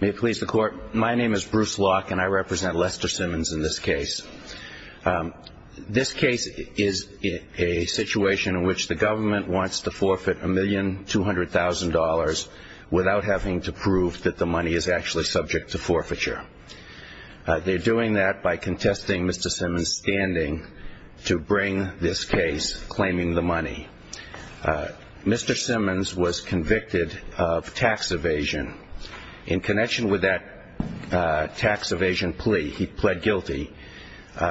May it please the court, my name is Bruce Locke and I represent Lester Simmons in this case. This case is a situation in which the government wants to forfeit $1,200,000 without having to prove that the money is actually subject to forfeiture. They're doing that by contesting Mr. Simmons' standing to bring this case, claiming the money. Mr. Simmons was convicted of tax evasion. In connection with that tax evasion plea, he pled guilty.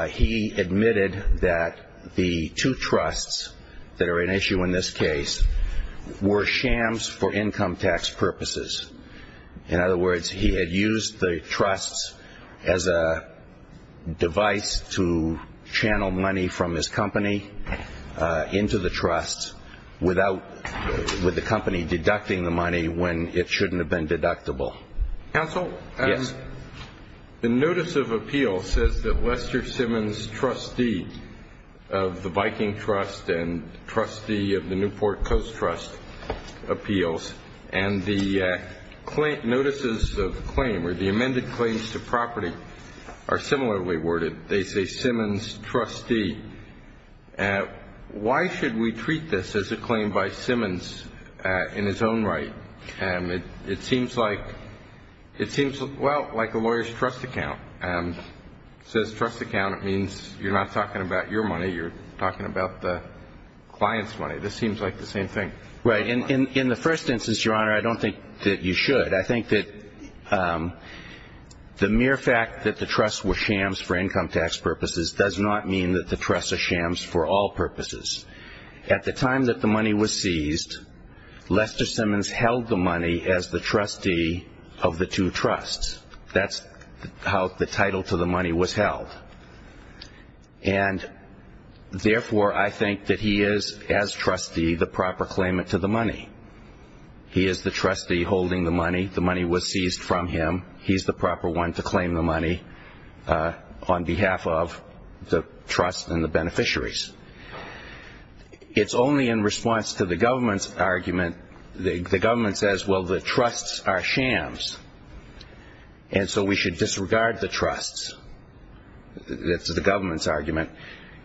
He admitted that the two trusts that are at issue in this case were shams for income tax purposes. In other words, he had used the trusts as a device to channel money from his company into the trust without the company deducting the money when it shouldn't have been deductible. Counsel? Yes. The notice of appeal says that Lester Simmons, trustee of the Viking Trust and trustee of the Newport Coast Trust, appeals. And the notices of claim or the amended claims to property are similarly worded. They say Simmons, trustee. Why should we treat this as a claim by Simmons in his own right? It seems like a lawyer's trust account. It says trust account. It means you're not talking about your money. You're talking about the client's money. This seems like the same thing. Right. In the first instance, Your Honor, I don't think that you should. I think that the mere fact that the trusts were shams for income tax purposes does not mean that the trusts are shams for all purposes. At the time that the money was seized, Lester Simmons held the money as the trustee of the two trusts. That's how the title to the money was held. And, therefore, I think that he is, as trustee, the proper claimant to the money. He is the trustee holding the money. The money was seized from him. He's the proper one to claim the money on behalf of the trust and the beneficiaries. It's only in response to the government's argument, the government says, well, the trusts are shams, and so we should disregard the trusts. That's the government's argument.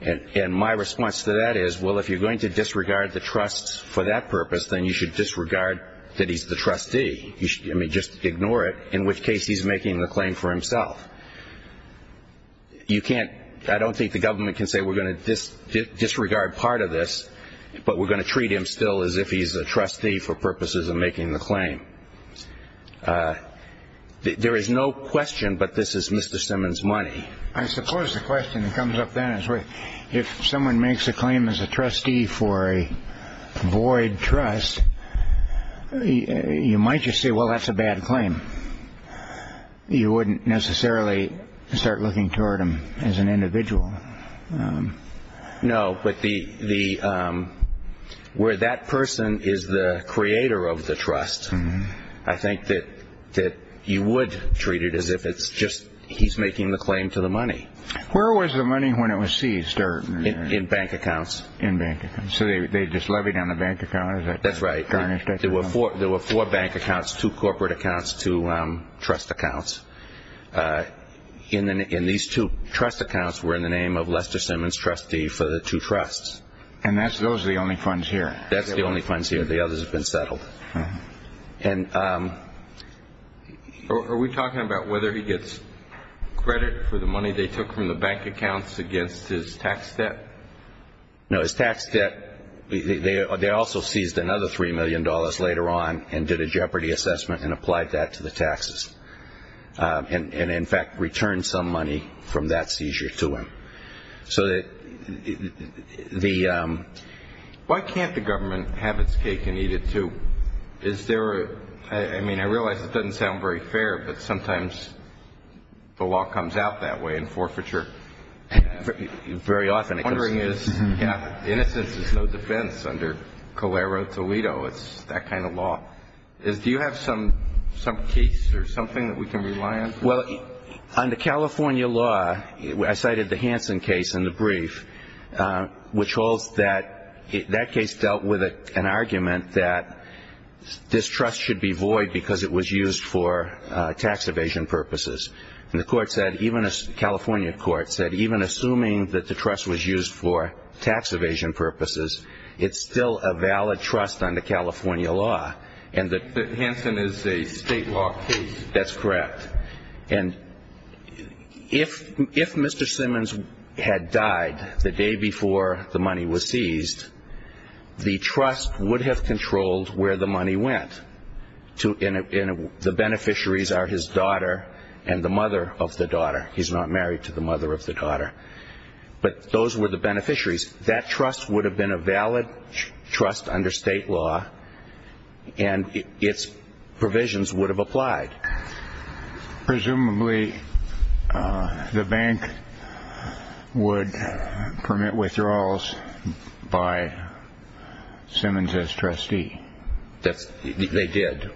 And my response to that is, well, if you're going to disregard the trusts for that purpose, then you should disregard that he's the trustee. I mean, just ignore it, in which case he's making the claim for himself. I don't think the government can say we're going to disregard part of this, but we're going to treat him still as if he's a trustee for purposes of making the claim. There is no question, but this is Mr. Simmons' money. I suppose the question that comes up then is if someone makes a claim as a trustee for a void trust, you might just say, well, that's a bad claim. You wouldn't necessarily start looking toward him as an individual. No, but where that person is the creator of the trust, I think that you would treat it as if it's just he's making the claim to the money. Where was the money when it was seized? In bank accounts. So they just levied on the bank account? That's right. There were four bank accounts, two corporate accounts, two trust accounts. And these two trust accounts were in the name of Lester Simmons, trustee for the two trusts. And those are the only funds here? That's the only funds here. The others have been settled. Are we talking about whether he gets credit for the money they took from the bank accounts against his tax debt? No, his tax debt, they also seized another $3 million later on and did a jeopardy assessment and applied that to the taxes and, in fact, returned some money from that seizure to him. Why can't the government have its cake and eat it, too? I mean, I realize it doesn't sound very fair, but sometimes the law comes out that way in forfeiture. Very often it does. Innocence is no defense under Calero-Toledo. It's that kind of law. Do you have some case or something that we can rely on? Well, under California law, I cited the Hansen case in the brief, which holds that that case dealt with an argument that this trust should be void because it was used for tax evasion purposes. And the California court said even assuming that the trust was used for tax evasion purposes, it's still a valid trust under California law. But Hansen is a state law case. That's correct. And if Mr. Simmons had died the day before the money was seized, the trust would have controlled where the money went. The beneficiaries are his daughter and the mother of the daughter. He's not married to the mother of the daughter. But those were the beneficiaries. That trust would have been a valid trust under state law, and its provisions would have applied. Presumably the bank would permit withdrawals by Simmons as trustee. They did.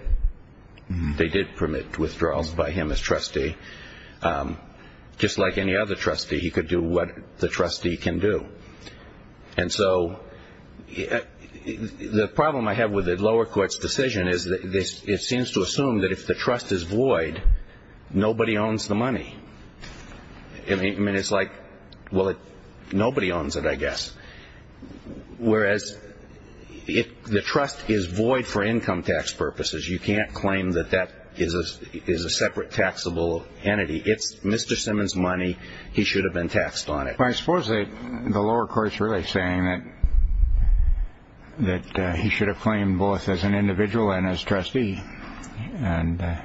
They did permit withdrawals by him as trustee. Just like any other trustee, he could do what the trustee can do. And so the problem I have with the lower court's decision is it seems to assume that if the trust is void, nobody owns the money. I mean, it's like, well, nobody owns it, I guess. Whereas if the trust is void for income tax purposes, you can't claim that that is a separate taxable entity. It's Mr. Simmons' money. He should have been taxed on it. Well, I suppose the lower court's really saying that he should have claimed both as an individual and as trustee. I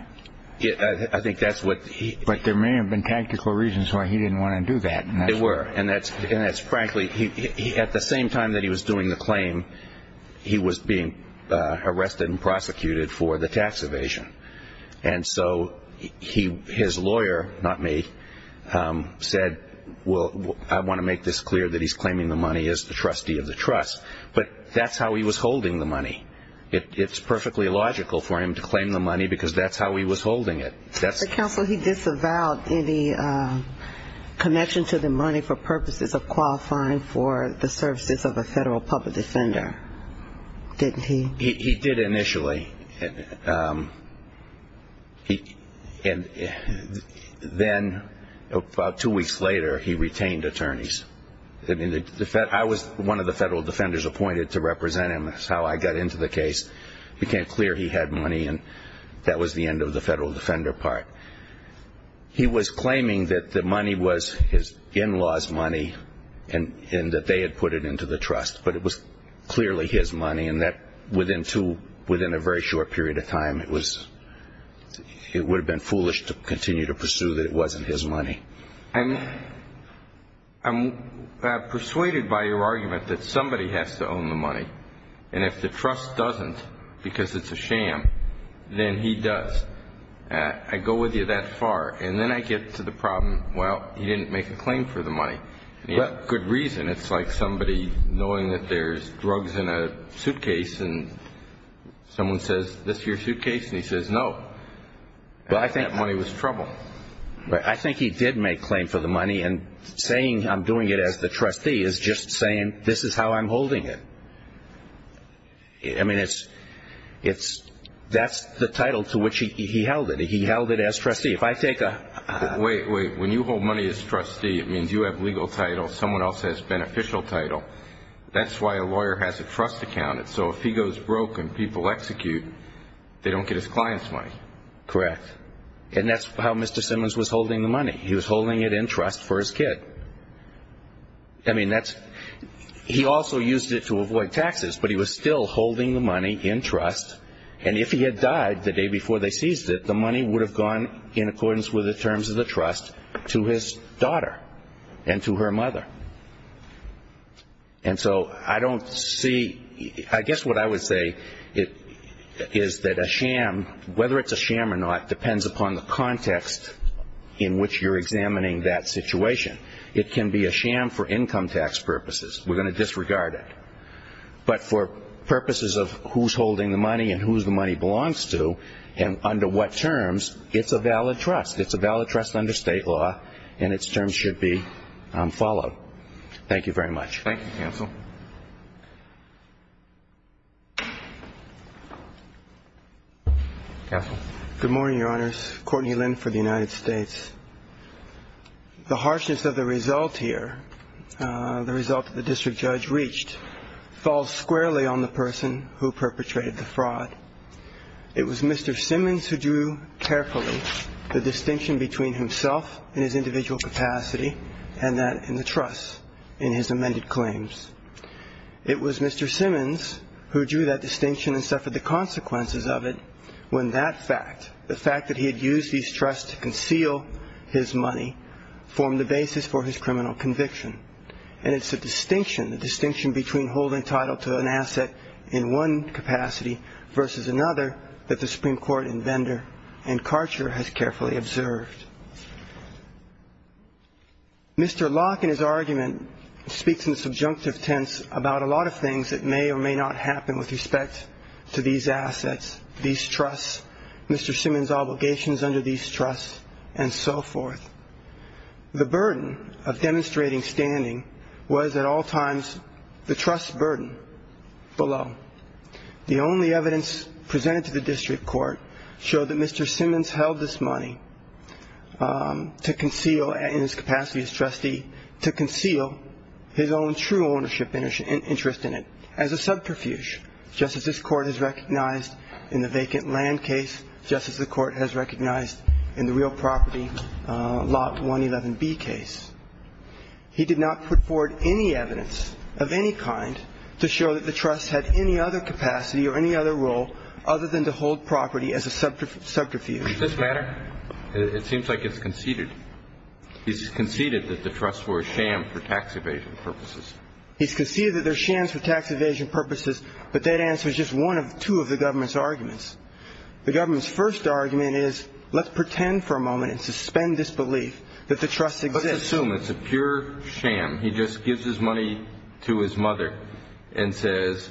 think that's what he— But there may have been tactical reasons why he didn't want to do that. There were. And that's frankly—at the same time that he was doing the claim, he was being arrested and prosecuted for the tax evasion. And so his lawyer, not me, said, well, I want to make this clear that he's claiming the money as the trustee of the trust. But that's how he was holding the money. It's perfectly logical for him to claim the money because that's how he was holding it. Mr. Counsel, he disavowed any connection to the money for purposes of qualifying for the services of a federal public defender, didn't he? He did initially. Then about two weeks later, he retained attorneys. I was one of the federal defenders appointed to represent him. That's how I got into the case. It became clear he had money, and that was the end of the federal defender part. He was claiming that the money was his in-laws' money and that they had put it into the trust, but it was clearly his money, and that within a very short period of time, it would have been foolish to continue to pursue that it wasn't his money. I'm persuaded by your argument that somebody has to own the money, and if the trust doesn't because it's a sham, then he does. I go with you that far, and then I get to the problem, well, he didn't make a claim for the money, and he had good reason. It's like somebody knowing that there's drugs in a suitcase, and someone says, this is your suitcase, and he says no. I think that money was trouble. I think he did make claim for the money, and saying I'm doing it as the trustee is just saying this is how I'm holding it. I mean, that's the title to which he held it. He held it as trustee. Wait, wait. When you hold money as trustee, it means you have legal title. Someone else has beneficial title. That's why a lawyer has a trust account. So if he goes broke and people execute, they don't get his client's money. Correct. And that's how Mr. Simmons was holding the money. He was holding it in trust for his kid. I mean, he also used it to avoid taxes, but he was still holding the money in trust, and if he had died the day before they seized it, the money would have gone in accordance with the terms of the trust to his daughter and to her mother. And so I don't see, I guess what I would say is that a sham, whether it's a sham or not, depends upon the context in which you're examining that situation. It can be a sham for income tax purposes. We're going to disregard it. But for purposes of who's holding the money and whose the money belongs to and under what terms, it's a valid trust. It's a valid trust under state law, and its terms should be followed. Thank you very much. Thank you, counsel. Counsel. Good morning, Your Honors. Courtney Lynn for the United States. The harshness of the result here, the result that the district judge reached, falls squarely on the person who perpetrated the fraud. It was Mr. Simmons who drew carefully the distinction between himself and his individual capacity and that in the trust in his amended claims. It was Mr. Simmons who drew that distinction and suffered the consequences of it when that fact, the fact that he had used these trusts to conceal his money, formed the basis for his criminal conviction. And it's the distinction, the distinction between holding title to an asset in one capacity versus another that the Supreme Court in Vendor and Karcher has carefully observed. Mr. Locke in his argument speaks in subjunctive tense about a lot of things that may or may not happen with respect to these assets, these trusts, Mr. Simmons' obligations under these trusts, and so forth. The burden of demonstrating standing was at all times the trust burden below. The only evidence presented to the district court showed that Mr. Simmons held this money to conceal, in his capacity as trustee, to conceal his own true ownership and interest in it as a subterfuge, just as this Court has recognized in the vacant land case, just as the Court has recognized in the real property, Lot 111B case. He did not put forward any evidence of any kind to show that the trust had any other capacity or any other role other than to hold property as a subterfuge. Does this matter? It seems like it's conceded. He's conceded that the trusts were a sham for tax evasion purposes. He's conceded that they're shams for tax evasion purposes, but that answer is just one of two of the government's arguments. The government's first argument is, let's pretend for a moment and suspend this belief that the trust exists. Let's assume it's a pure sham. He just gives his money to his mother and says,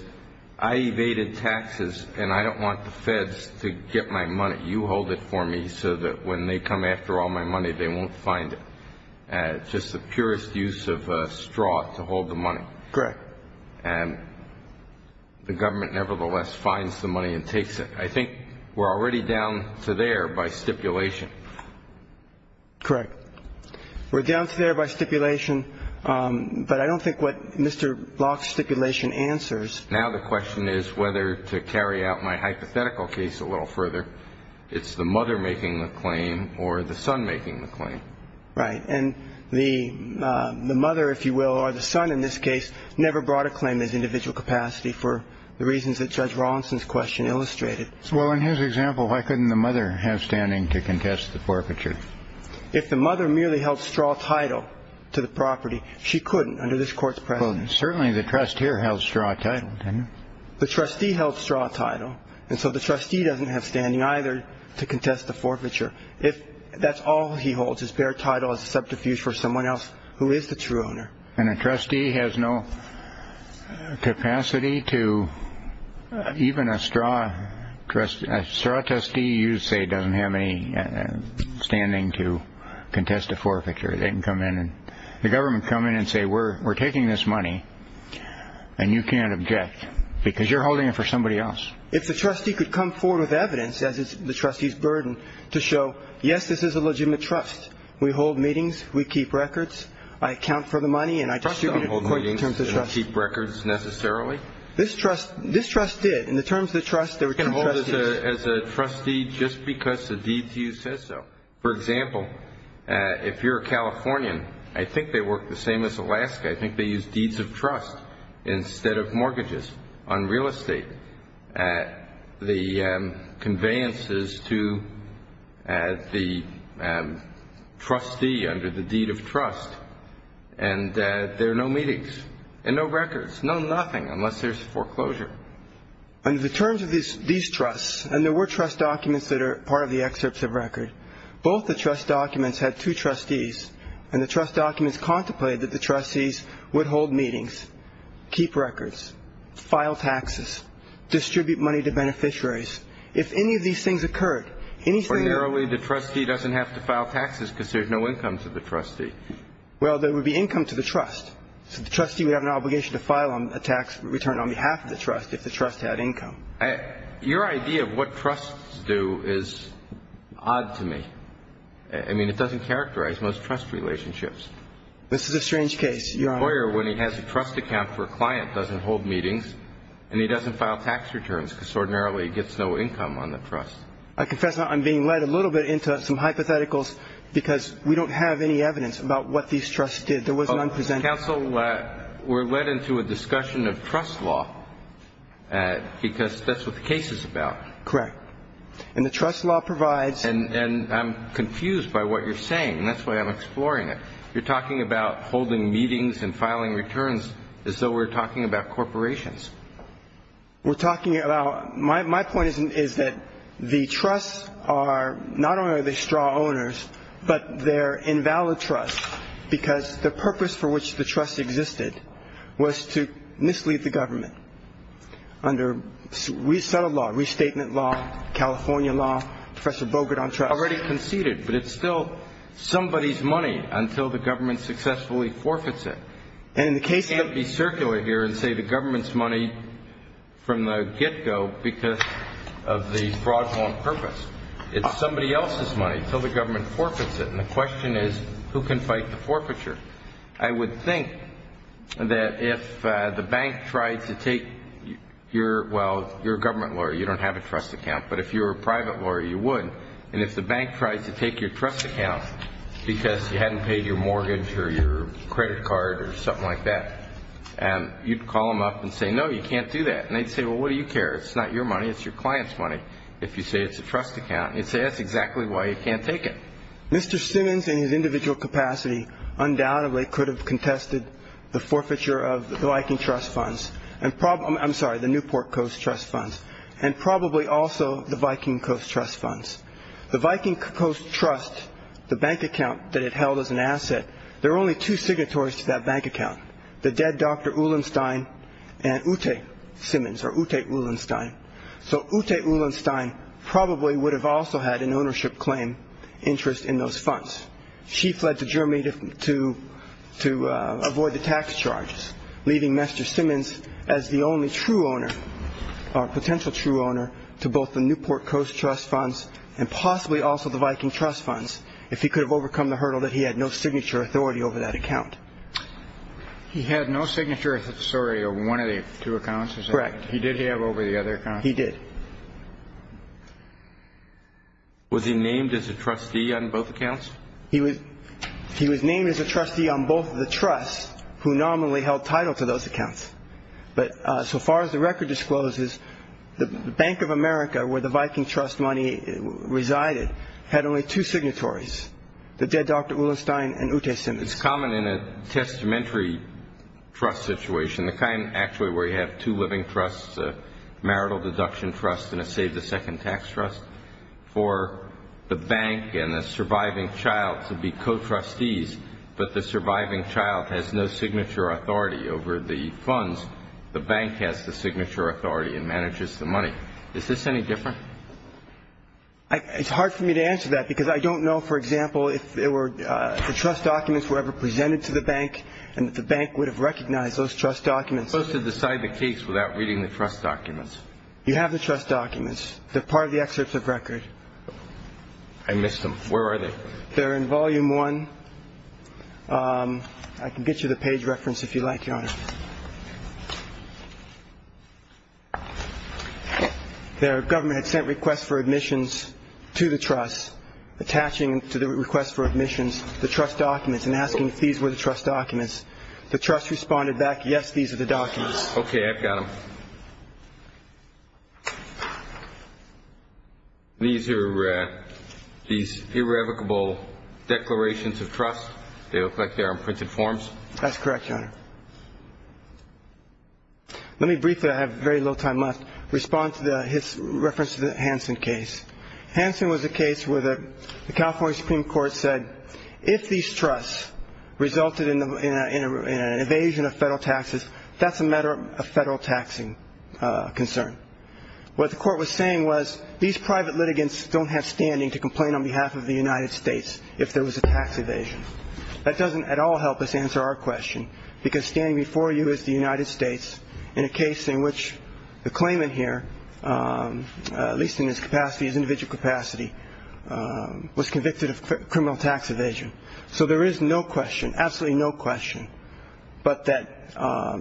I evaded taxes, and I don't want the feds to get my money. You hold it for me so that when they come after all my money, they won't find it. And just the purest use of a straw to hold the money. Correct. And the government nevertheless finds the money and takes it. I think we're already down to there by stipulation. Correct. We're down to there by stipulation, but I don't think what Mr. Locke's stipulation answers. Now the question is whether to carry out my hypothetical case a little further. It's the mother making the claim or the son making the claim. Right. And the mother, if you will, or the son in this case, never brought a claim as individual capacity for the reasons that Judge Rawlinson's question illustrated. Well, in his example, why couldn't the mother have standing to contest the forfeiture? If the mother merely held straw title to the property, she couldn't under this court's precedent. Well, certainly the trusteer held straw title, didn't he? The trustee held straw title, and so the trustee doesn't have standing either to contest the forfeiture. If that's all he holds is bare title as a subterfuge for someone else who is the true owner. And a trustee has no capacity to even a straw trustee. A straw trustee, you say, doesn't have any standing to contest the forfeiture. They can come in and the government come in and say, we're taking this money, and you can't object because you're holding it for somebody else. If the trustee could come forward with evidence, as is the trustee's burden, to show, yes, this is a legitimate trust. We hold meetings. We keep records. I account for the money, and I distribute it. Trust don't hold meetings and keep records necessarily. This trust did. In the terms of the trust, there were two trustees. You can hold it as a trustee just because the deed to you says so. For example, if you're a Californian, I think they work the same as Alaska. I think they use deeds of trust instead of mortgages on real estate, the conveyances to the trustee under the deed of trust. And there are no meetings and no records, no nothing, unless there's foreclosure. Under the terms of these trusts, and there were trust documents that are part of the excerpts of record, both the trust documents had two trustees, and the trust documents contemplated that the trustees would hold meetings, keep records, file taxes, distribute money to beneficiaries. If any of these things occurred, anything that – Or narrowly, the trustee doesn't have to file taxes because there's no income to the trustee. Well, there would be income to the trust. So the trustee would have an obligation to file a tax return on behalf of the trust if the trust had income. Your idea of what trusts do is odd to me. I mean, it doesn't characterize most trust relationships. This is a strange case, Your Honor. A lawyer, when he has a trust account for a client, doesn't hold meetings and he doesn't file tax returns, because ordinarily he gets no income on the trust. I confess I'm being led a little bit into some hypotheticals because we don't have any evidence about what these trusts did. There was none presented. Counsel, we're led into a discussion of trust law because that's what the case is about. Correct. And the trust law provides – And I'm confused by what you're saying, and that's why I'm exploring it. You're talking about holding meetings and filing returns as though we're talking about corporations. We're talking about – my point is that the trusts are not only the straw owners, but they're invalid trusts because the purpose for which the trust existed was to mislead the government under resettled law, restatement law, California law, Professor Bogart on trust. Already conceded, but it's still somebody's money until the government successfully forfeits it. And in the case of – It can't be circulated here and say the government's money from the get-go because of the fraudulent purpose. It's somebody else's money until the government forfeits it. And the question is, who can fight the forfeiture? I would think that if the bank tried to take your – well, you're a government lawyer. You don't have a trust account. But if you were a private lawyer, you would. And if the bank tried to take your trust account because you hadn't paid your mortgage or your credit card or something like that, you'd call them up and say, no, you can't do that. And they'd say, well, what do you care? It's not your money. It's your client's money. If you say it's a trust account, you'd say that's exactly why you can't take it. Mr. Simmons in his individual capacity undoubtedly could have contested the forfeiture of the Viking Trust Funds and – I'm sorry, the Newport Coast Trust Funds and probably also the Viking Coast Trust Funds. The Viking Coast Trust, the bank account that it held as an asset, there were only two signatories to that bank account, the dead Dr. Uhlenstein and Ute Simmons or Ute Uhlenstein. So Ute Uhlenstein probably would have also had an ownership claim interest in those funds. She fled to Germany to avoid the tax charges, leaving Mr. Simmons as the only true owner or potential true owner to both the Newport Coast Trust Funds and possibly also the Viking Trust Funds if he could have overcome the hurdle that he had no signature authority over that account. He had no signature authority over one of the two accounts? Correct. He did have over the other account? He did. Was he named as a trustee on both accounts? He was named as a trustee on both of the trusts who nominally held title to those accounts. But so far as the record discloses, the Bank of America, where the Viking Trust money resided, had only two signatories, the dead Dr. Uhlenstein and Ute Simmons. It's common in a testamentary trust situation, the kind actually where you have two living trusts, a marital deduction trust and a save-the-second-tax trust, for the bank and the surviving child to be co-trustees, but the surviving child has no signature authority over the funds. The bank has the signature authority and manages the money. Is this any different? It's hard for me to answer that because I don't know, for example, if the trust documents were ever presented to the bank and if the bank would have recognized those trust documents. You're supposed to decide the case without reading the trust documents. You have the trust documents. They're part of the excerpt of record. I missed them. Where are they? They're in volume one. I can get you the page reference if you like, Your Honor. The government had sent requests for admissions to the trust, attaching to the request for admissions the trust documents and asking if these were the trust documents. The trust responded back, yes, these are the documents. Okay, I've got them. These irrevocable declarations of trust, they look like they're in printed forms? That's correct, Your Honor. Let me briefly, I have very little time left, respond to his reference to the Hansen case. Hansen was a case where the California Supreme Court said, if these trusts resulted in an evasion of federal taxes, that's a matter of federal taxing concern. What the court was saying was these private litigants don't have standing to complain on behalf of the United States if there was a tax evasion. That doesn't at all help us answer our question because standing before you is the United States in a case in which the claimant here, at least in his capacity, his individual capacity, was convicted of criminal tax evasion. So there is no question, absolutely no question, but that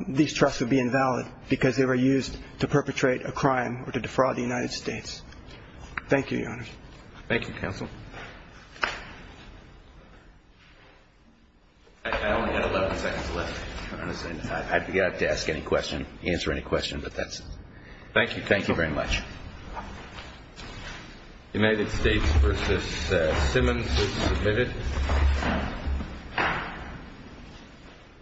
these trusts would be invalid because they were used to perpetrate a crime or to defraud the United States. Thank you, Your Honor. Thank you, counsel. I only have 11 seconds left. I forgot to ask any question, answer any question, but that's it. Thank you. Thank you very much. United States v. Simmons is submitted.